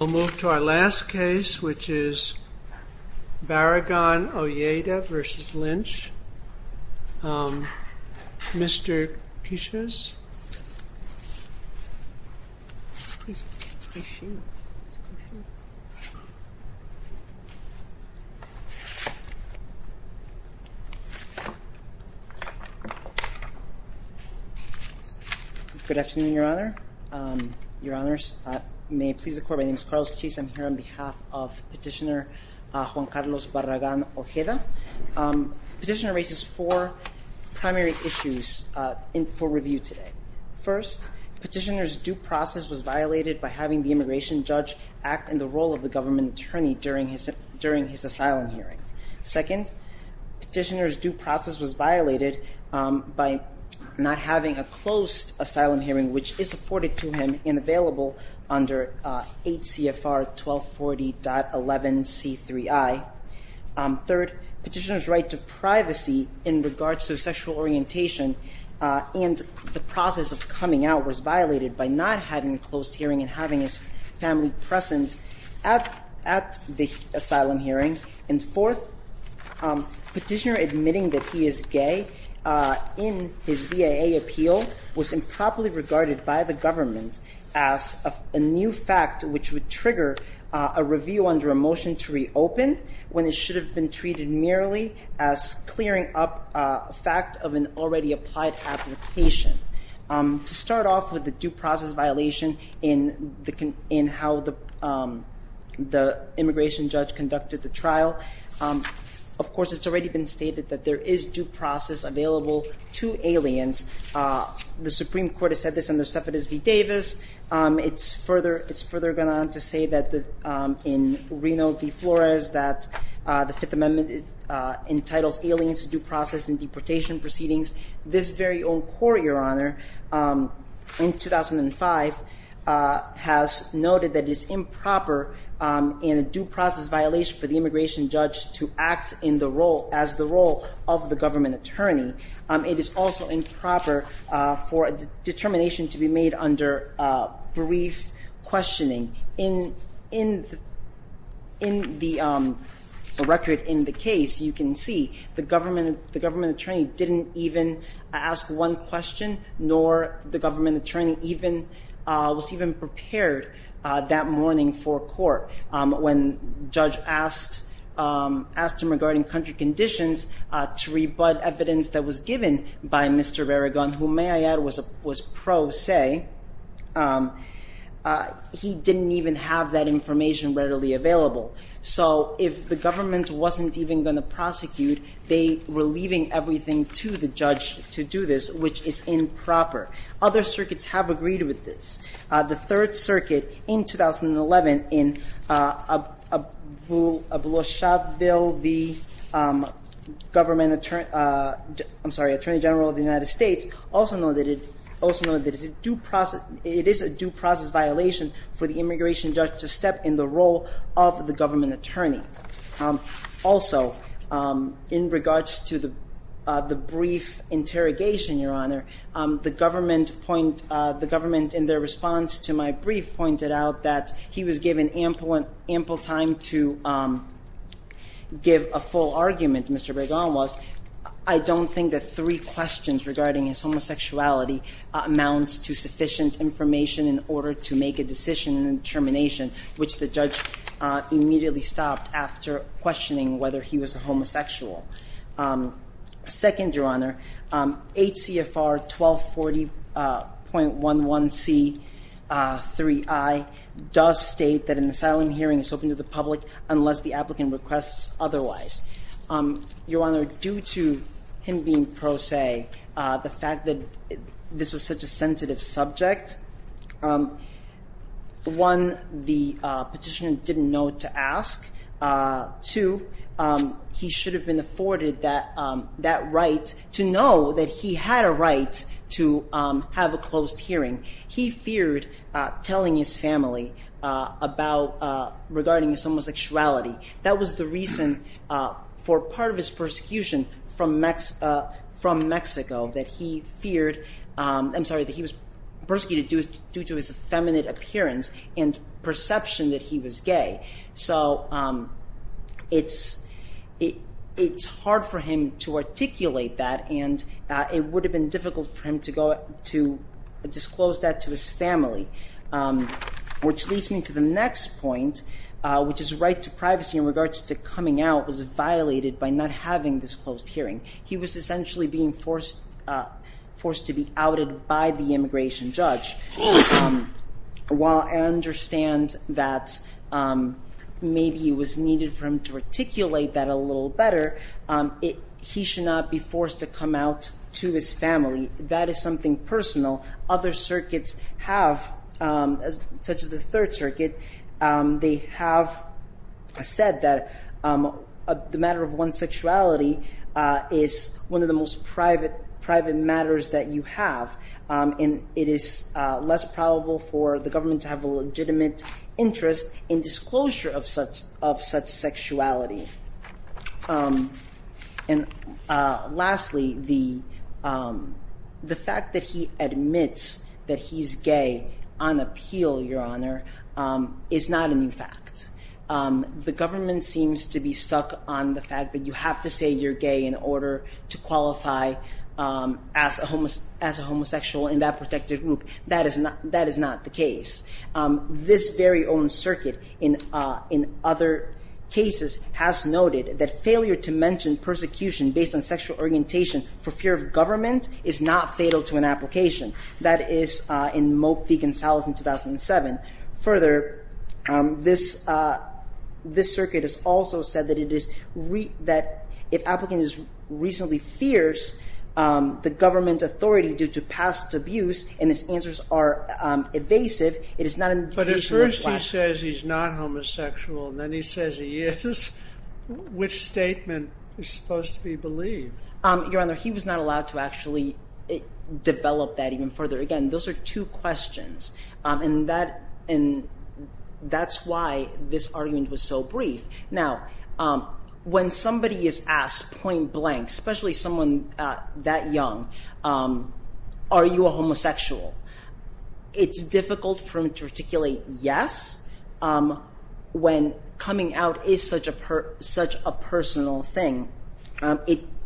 We'll move to our last case which is Barragan-Ojeda v. Lynch. Mr. Kishiz? Good afternoon, Your Honor. Your Honors. May it please the Court, my name is Carlos Kishiz. I'm here on behalf of Petitioner Juan Carlos Barragan-Ojeda. Petitioner raises four primary issues for review today. First, Petitioner's due process was violated by having the immigration judge act in the role of the government attorney during his asylum hearing. Second, Petitioner's due process was violated by not having a closed asylum hearing which is afforded to him and available under 8 CFR 1240.11c3i. Third, Petitioner's right to privacy in regards to sexual orientation and the process of coming out was violated by not having a closed hearing and having his family present at the asylum hearing. And fourth, Petitioner admitting that he is gay in his VAA appeal was improperly regarded by the government as a new fact which would trigger a review under a motion to reopen when it should have been treated merely as clearing up a fact of an already applied application. To start off with the due process violation in how the immigration judge conducted the trial, of course it's already been stated that there is due process available to aliens. The Supreme Court has said this under Cepedez v. Davis. It's further gone on to say that in Reno v. Flores that the Fifth Amendment entitles aliens to due process in deportation proceedings. This very own court, Your Honor, in 2005 has noted that it's improper in a due process violation for the immigration judge to act in the role, as the role of the government attorney. It is also improper for a determination to be made under brief questioning. In the record in the case, you can see the government attorney didn't even ask one question, nor the government attorney was even prepared that morning for court. When judge asked him regarding country conditions to rebut evidence that was given by Mr. Barragan, who may I add was pro se, he didn't even have that information readily available. So if the government wasn't even going to prosecute, they were leaving everything to the judge to do this, which is improper. Other circuits have agreed with this. The Third Circuit in 2011 in Aboloshaville v. Attorney General of the United States also noted that it is a due process violation for the immigration judge to step in the role of the government attorney. Also, in regards to the brief interrogation, Your Honor, the government in their response to my brief pointed out that he was given ample time to give a full argument, Mr. Barragan was. I don't think that three questions regarding his homosexuality amounts to sufficient information in order to make a decision in termination, which the judge immediately stopped after questioning whether he was a homosexual. Second, Your Honor, 8 CFR 1240.11C3I does state that an asylum hearing is open to the public unless the applicant requests otherwise. Your Honor, due to him being pro se, the fact that this was such a sensitive subject, one, the petitioner didn't know what to ask. Two, he should have been afforded that right to know that he had a right to have a closed hearing. He feared telling his family regarding his homosexuality. That was the reason for part of his persecution from Mexico that he feared, I'm sorry, that he was persecuted due to his effeminate appearance and perception that he was gay. So it's hard for him to articulate that and it would have been difficult for him to disclose that to his family. Which leads me to the next point, which is right to privacy in regards to coming out was violated by not having this closed hearing. He was essentially being forced to be outed by the immigration judge. While I understand that maybe it was needed for him to articulate that a little better, he should not be forced to come out to his family. That is something personal. Other circuits have, such as the Third Circuit, they have said that the matter of one's sexuality is one of the most private matters that you have. And it is less probable for the government to have a legitimate interest in disclosure of such sexuality. And lastly, the fact that he admits that he's gay on appeal, Your Honor, is not a new fact. The government seems to be stuck on the fact that you have to say you're gay in order to qualify as a homosexual in that protected group. That is not the case. This very own circuit, in other cases, has noted that failure to mention persecution based on sexual orientation for fear of government is not fatal to an application. That is in Mope v. Gonzalez in 2007. Further, this circuit has also said that if an applicant is reasonably fierce, the government's authority due to past abuse and its answers are evasive, it is not an indication of lack. But at first he says he's not homosexual, and then he says he is. Which statement is supposed to be believed? Your Honor, he was not allowed to actually develop that even further. Again, those are two questions, and that's why this argument was so brief. Now, when somebody is asked point blank, especially someone that young, are you a homosexual? It's difficult for him to articulate yes when coming out is such a personal thing.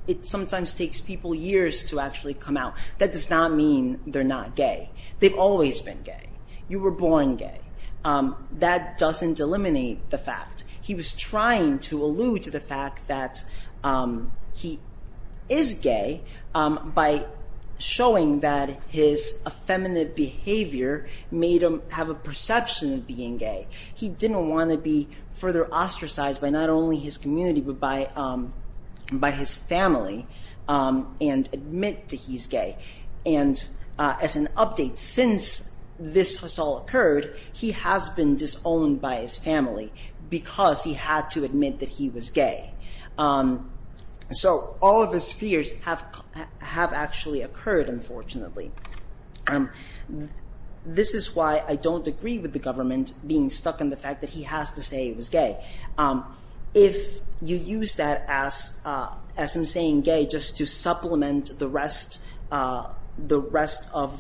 It sometimes takes people years to actually come out. That does not mean they're not gay. They've always been gay. You were born gay. That doesn't eliminate the fact. He was trying to allude to the fact that he is gay by showing that his effeminate behavior made him have a perception of being gay. He didn't want to be further ostracized by not only his community but by his family and admit that he's gay. And as an update, since this has all occurred, he has been disowned by his family because he had to admit that he was gay. So all of his fears have actually occurred, unfortunately. This is why I don't agree with the government being stuck in the fact that he has to say he was gay. If you use that as him saying gay just to supplement the rest of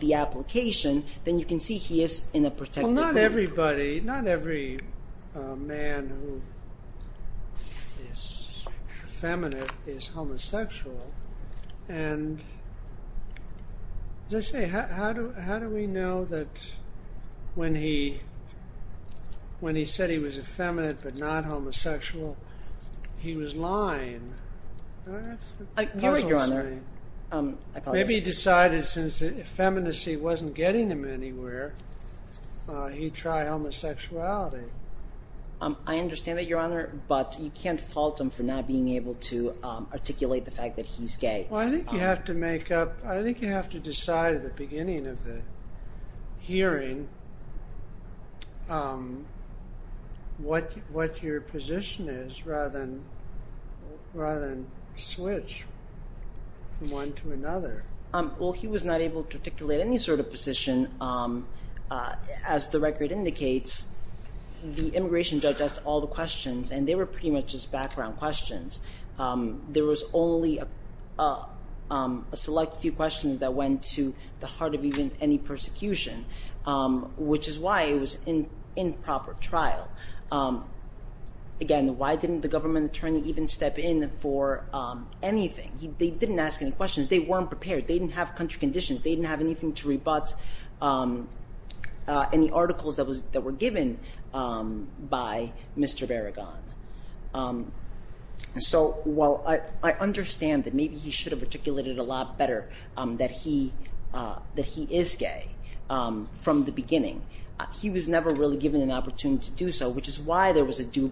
the application, then you can see he is in a protected way. Well, not everybody, not every man who is effeminate is homosexual. And as I say, how do we know that when he said he was effeminate but not homosexual, he was lying? Maybe he decided since effeminacy wasn't getting him anywhere, he'd try homosexuality. I understand that, Your Honor, but you can't fault him for not being able to articulate the fact that he's gay. Well, I think you have to decide at the beginning of the hearing what your position is rather than switch from one to another. Well, he was not able to articulate any sort of position. As the record indicates, the immigration judge asked all the questions, and they were pretty much just background questions. There was only a select few questions that went to the heart of even any persecution, which is why it was an improper trial. Again, why didn't the government attorney even step in for anything? They didn't ask any questions. They weren't prepared. They didn't have country conditions. They didn't have anything to rebut any articles that were given by Mr. Barragan. So while I understand that maybe he should have articulated a lot better that he is gay from the beginning, he was never really given an opportunity to do so, which is why there was a due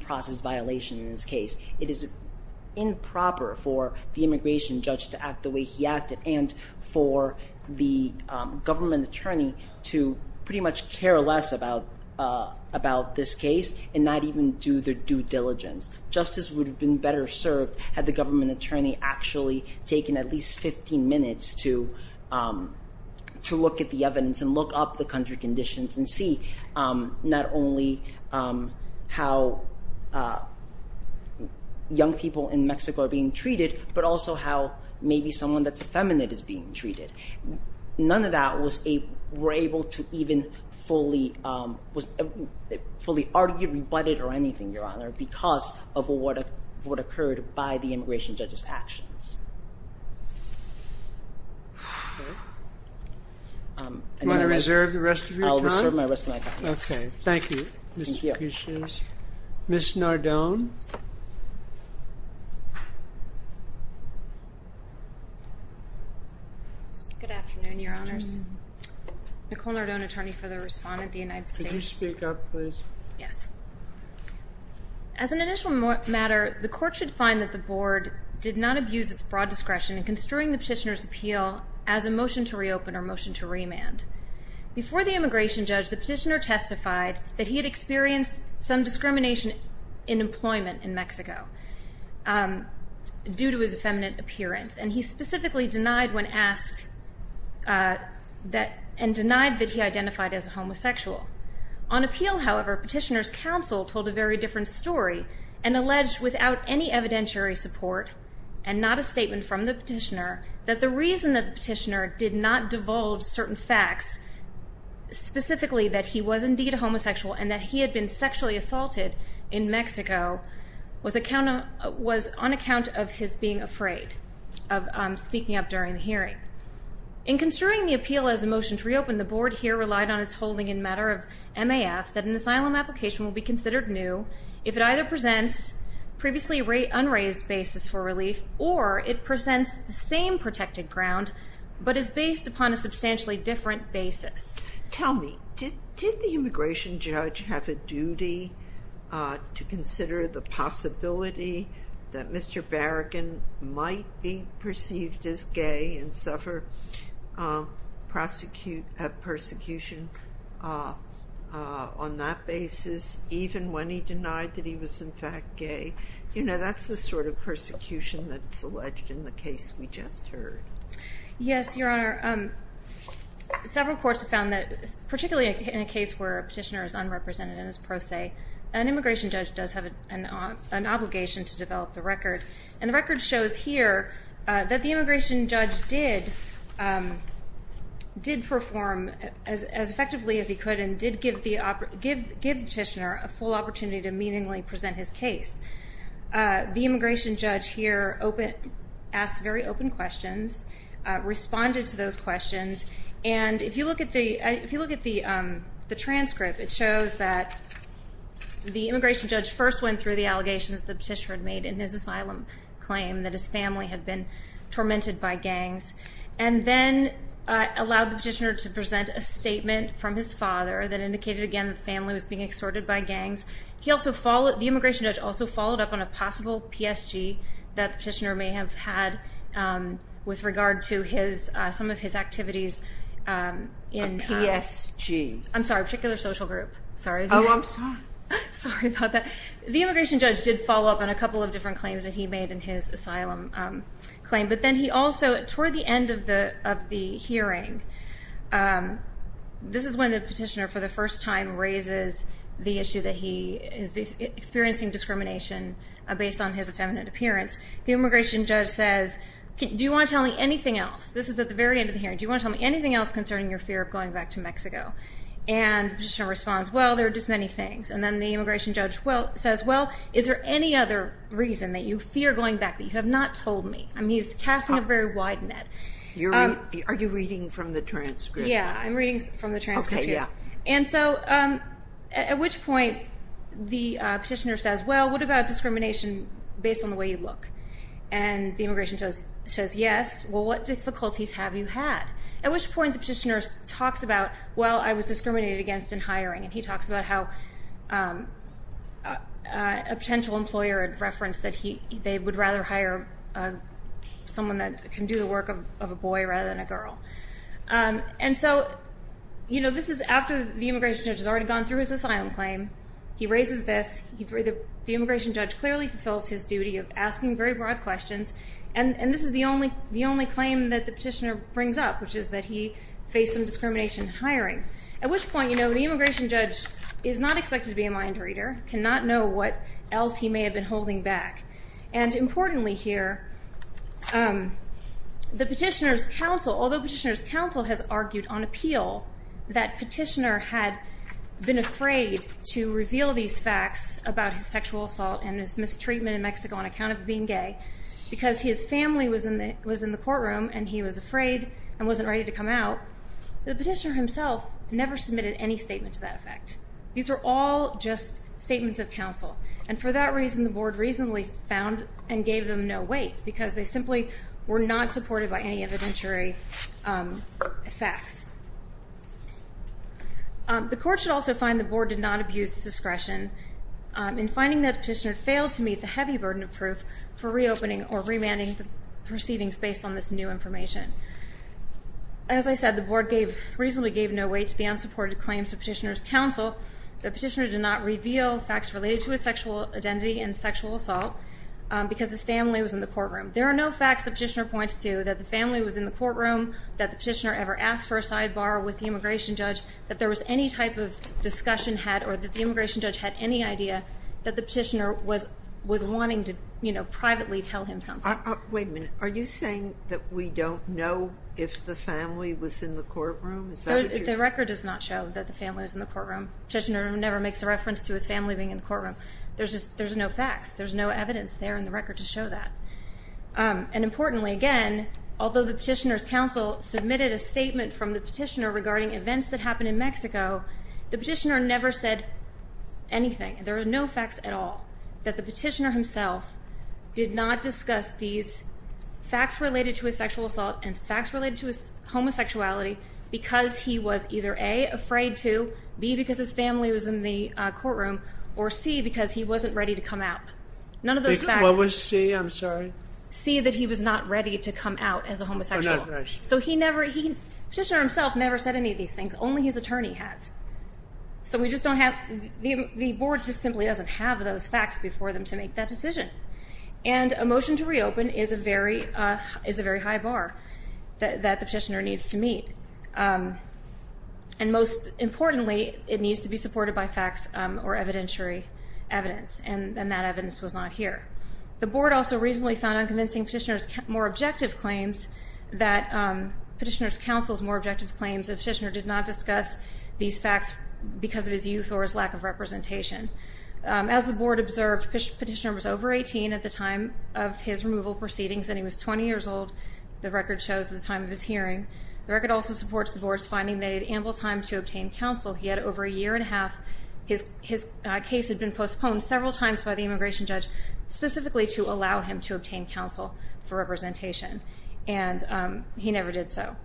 process violation in this case. It is improper for the immigration judge to act the way he acted and for the government attorney to pretty much care less about this case and not even do their due diligence. Justice would have been better served had the government attorney actually taken at least 15 minutes to look at the evidence and look up the country conditions and see not only how young people in Mexico are being treated, but also how maybe someone that's effeminate is being treated. None of that were able to even fully argue, rebut it, or anything, Your Honor, because of what occurred by the immigration judge's actions. Are you going to reserve the rest of your time? I will reserve my rest of my time. Okay. Thank you, Mr. Kucinich. Thank you. Ms. Nardone? Good afternoon, Your Honors. Nicole Nardone, attorney for the respondent of the United States. Could you speak up, please? Yes. As an initial matter, the court should find that the board did not abuse its broad discretion in construing the petitioner's appeal as a motion to reopen or motion to remand. Before the immigration judge, the petitioner testified that he had experienced some discrimination in employment in Mexico due to his effeminate appearance, and he specifically denied when asked and denied that he identified as a homosexual. On appeal, however, petitioner's counsel told a very different story and alleged without any evidentiary support and not a statement from the petitioner that the reason that the petitioner did not divulge certain facts, specifically that he was indeed a homosexual and that he had been sexually assaulted in Mexico, was on account of his being afraid of speaking up during the hearing. In construing the appeal as a motion to reopen, the board here relied on its holding in matter of MAF that an asylum application will be considered new if it either presents previously unraised basis for relief or it presents the same protected ground but is based upon a substantially different basis. Tell me, did the immigration judge have a duty to consider the possibility that Mr. Barragan might be perceived as gay and suffer persecution on that basis even when he denied that he was in fact gay? You know, that's the sort of persecution that's alleged in the case we just heard. Yes, Your Honor. Several courts have found that, particularly in a case where a petitioner is unrepresented in his pro se, an immigration judge does have an obligation to develop the record, and the record shows here that the immigration judge did perform as effectively as he could and did give the petitioner a full opportunity to meaningfully present his case. The immigration judge here asked very open questions, responded to those questions, and if you look at the transcript, it shows that the immigration judge first went through the allegations the petitioner had made in his asylum claim that his family had been tormented by gangs, and then allowed the petitioner to present a statement from his father that indicated again that the family was being extorted by gangs. The immigration judge also followed up on a possible PSG that the petitioner may have had with regard to some of his activities. A PSG? I'm sorry, a particular social group. Oh, I'm sorry. Sorry about that. The immigration judge did follow up on a couple of different claims that he made in his asylum claim, but then he also, toward the end of the hearing, this is when the petitioner for the first time raises the issue that he is experiencing discrimination based on his effeminate appearance. The immigration judge says, do you want to tell me anything else? This is at the very end of the hearing. Do you want to tell me anything else concerning your fear of going back to Mexico? And the petitioner responds, well, there are just many things. And then the immigration judge says, well, is there any other reason that you fear going back that you have not told me? I mean, he's casting a very wide net. Are you reading from the transcript? Yeah, I'm reading from the transcript here. Okay, yeah. And so at which point the petitioner says, well, what about discrimination based on the way you look? And the immigration judge says, yes, well, what difficulties have you had? At which point the petitioner talks about, well, I was discriminated against in hiring, and he talks about how a potential employer had referenced that they would rather hire someone that can do the work of a boy rather than a girl. And so, you know, this is after the immigration judge has already gone through his asylum claim. He raises this. The immigration judge clearly fulfills his duty of asking very broad questions, and this is the only claim that the petitioner brings up, which is that he faced some discrimination in hiring. At which point, you know, the immigration judge is not expected to be a mind reader, cannot know what else he may have been holding back. And importantly here, the petitioner's counsel, although petitioner's counsel has argued on appeal that petitioner had been afraid to reveal these facts about his sexual assault and his mistreatment in Mexico on account of being gay because his family was in the courtroom and he was afraid and wasn't ready to come out. The petitioner himself never submitted any statement to that effect. These are all just statements of counsel. And for that reason, the board reasonably found and gave them no weight because they simply were not supported by any evidentiary facts. The court should also find the board did not abuse discretion in finding that the petitioner failed to meet the heavy burden of proof for reopening or remanding the proceedings based on this new information. As I said, the board gave, reasonably gave no weight to the unsupported claims of petitioner's counsel. The petitioner did not reveal facts related to his sexual identity and sexual assault because his family was in the courtroom. There are no facts the petitioner points to that the family was in the courtroom, that the petitioner ever asked for a sidebar with the immigration judge, that there was any type of discussion had or that the immigration judge had any idea that the petitioner was wanting to, you know, privately tell him something. Wait a minute. Are you saying that we don't know if the family was in the courtroom? Is that what you're saying? The record does not show that the family was in the courtroom. The petitioner never makes a reference to his family being in the courtroom. There's no facts. There's no evidence there in the record to show that. And importantly, again, although the petitioner's counsel submitted a statement from the petitioner regarding events that happened in Mexico, the petitioner never said anything. There are no facts at all that the petitioner himself did not discuss these facts related to his sexual assault and facts related to his homosexuality because he was either, A, afraid to, B, because his family was in the courtroom, or C, because he wasn't ready to come out. None of those facts. What was C? I'm sorry. C, that he was not ready to come out as a homosexual. So he never, the petitioner himself never said any of these things. Only his attorney has. So we just don't have, the board just simply doesn't have those facts before them to make that decision. And a motion to reopen is a very high bar that the petitioner needs to meet. And most importantly, it needs to be supported by facts or evidentiary evidence. And that evidence was not here. The board also recently found unconvincing petitioner's more objective claims that, petitioner's counsel's more objective claims that the petitioner did not discuss these facts because of his youth or his lack of representation. As the board observed, the petitioner was over 18 at the time of his removal proceedings, and he was 20 years old. The record shows the time of his hearing. The record also supports the board's finding that he had ample time to obtain counsel. He had over a year and a half. His case had been postponed several times by the immigration judge specifically to allow him to obtain counsel for representation. And he never did so.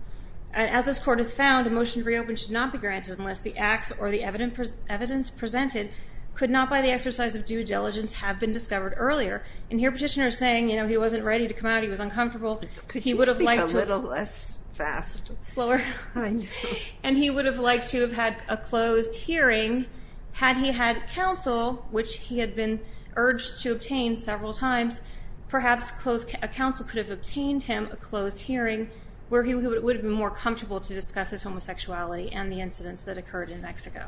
As this court has found, a motion to reopen should not be granted unless the acts or the evidence presented could not by the exercise of due diligence have been discovered earlier. And here petitioner is saying, you know, he wasn't ready to come out. He was uncomfortable. Could you speak a little less fast? Slower. I know. And he would have liked to have had a closed hearing had he had counsel, which he had been urged to obtain several times. Perhaps a counsel could have obtained him a closed hearing where he would have been more comfortable to discuss his homosexuality and the incidents that occurred in Mexico.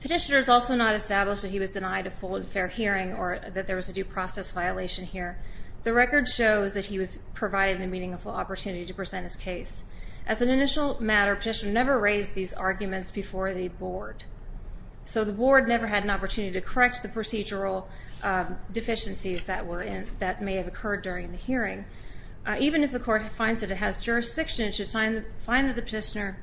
Petitioner has also not established that he was denied a full and fair hearing or that there was a due process violation here. The record shows that he was provided a meaningful opportunity to present his case. As an initial matter, petitioner never raised these arguments before the board. So the board never had an opportunity to correct the procedural deficiencies that may have occurred during the hearing. Even if the court finds that it has jurisdiction, it should find that the petitioner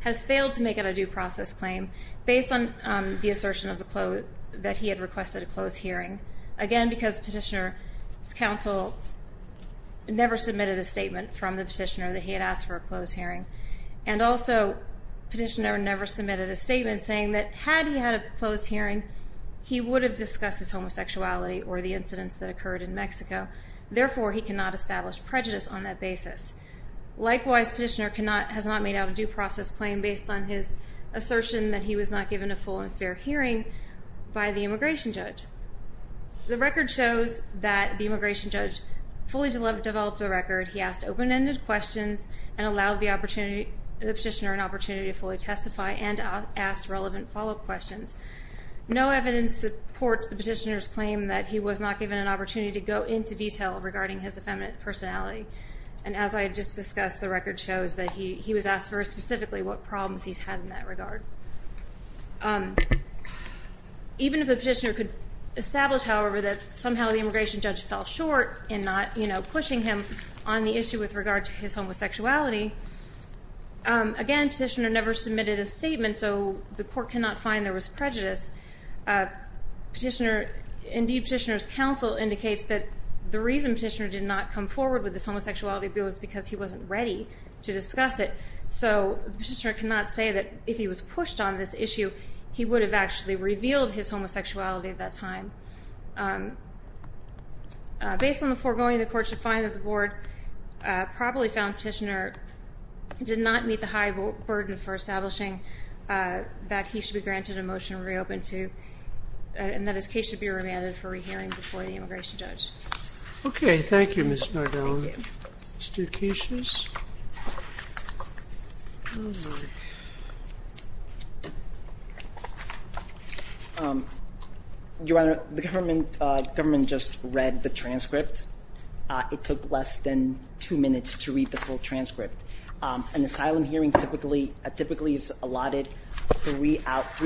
has failed to make it a due process claim based on the assertion that he had requested a closed hearing. Again, because petitioner's counsel never submitted a statement from the petitioner that he had asked for a closed hearing. And also, petitioner never submitted a statement saying that had he had a closed hearing, he would have discussed his homosexuality or the incidents that occurred in Mexico. Therefore, he cannot establish prejudice on that basis. Likewise, petitioner has not made out a due process claim based on his assertion that he was not given a full and fair hearing by the immigration judge. The record shows that the immigration judge fully developed the record. He asked open-ended questions and allowed the petitioner an opportunity to fully testify and ask relevant follow-up questions. No evidence supports the petitioner's claim that he was not given an opportunity to go into detail regarding his effeminate personality. And as I just discussed, the record shows that he was asked very specifically what problems he's had in that regard. Even if the petitioner could establish, however, that somehow the immigration judge fell short in not pushing him on the issue with regard to his homosexuality. Again, petitioner never submitted a statement, so the court cannot find there was prejudice. Indeed, petitioner's counsel indicates that the reason petitioner did not come forward with this homosexuality bill is because he wasn't ready to discuss it. So the petitioner cannot say that if he was pushed on this issue, he would have actually revealed his homosexuality at that time. Based on the foregoing, the court should find that the board probably found petitioner did not meet the high burden for establishing that he should be granted a motion to reopen to and that his case should be remanded for re-hearing before the immigration judge. Okay. Thank you, Ms. Nardone. Thank you. Mr. Kishas? Your Honor, the government just read the transcript. It took less than two minutes to read the full transcript. An asylum hearing typically is allotted three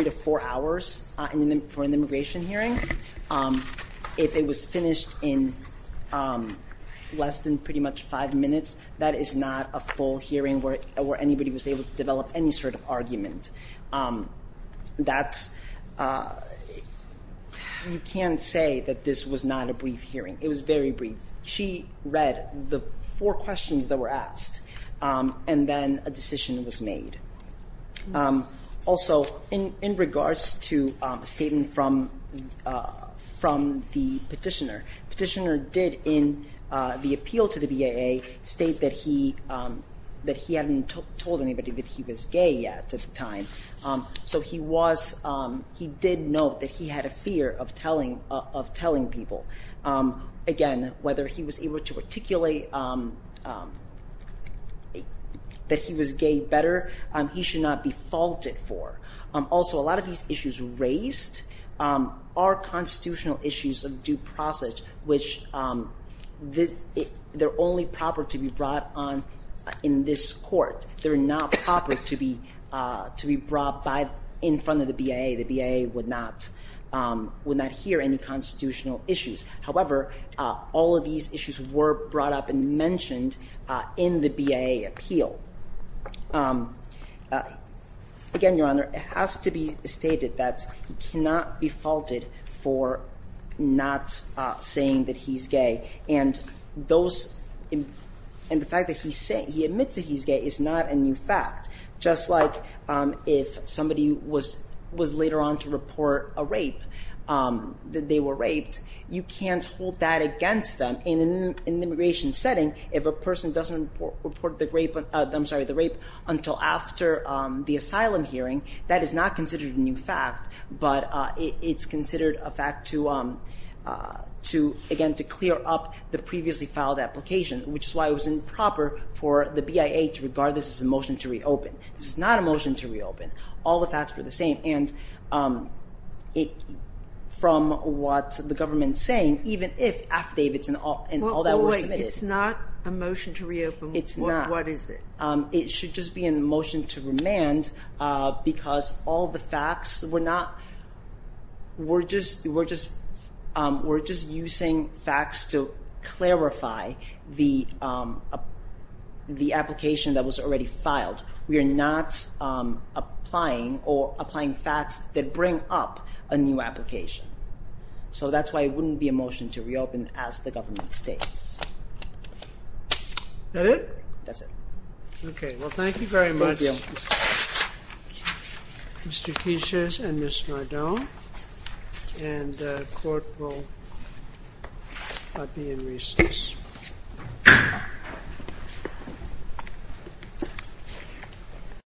to four hours for an immigration hearing. If it was finished in less than pretty much five minutes, that is not a full hearing where anybody was able to develop any sort of argument. You can't say that this was not a brief hearing. It was very brief. She read the four questions that were asked, and then a decision was made. Also, in regards to a statement from the petitioner, petitioner did in the appeal to the BAA state that he hadn't told anybody that he was gay yet at the time. So he did note that he had a fear of telling people. Again, whether he was able to articulate that he was gay better, he should not be faulted for. Also, a lot of these issues raised are constitutional issues of due process, which they're only proper to be brought on in this court. They're not proper to be brought in front of the BAA. The BAA would not hear any constitutional issues. However, all of these issues were brought up and mentioned in the BAA appeal. Again, Your Honor, it has to be stated that he cannot be faulted for not saying that he's gay, and the fact that he admits that he's gay is not a new fact. Just like if somebody was later on to report a rape, that they were raped, you can't hold that against them in an immigration setting. If a person doesn't report the rape until after the asylum hearing, that is not considered a new fact, but it's considered a fact to, again, to clear up the previously filed application, which is why it was improper for the BAA to regard this as a motion to reopen. This is not a motion to reopen. All the facts were the same, and from what the government is saying, even if affidavits and all that were submitted. Wait. It's not a motion to reopen? It's not. What is it? It should just be a motion to remand because all the facts were not – we're just using facts to clarify the application that was already filed. We are not applying facts that bring up a new application. So that's why it wouldn't be a motion to reopen as the government states. Is that it? That's it. Okay. Well, thank you very much, Mr. Quiches and Ms. Nardone, and the court will be in recess.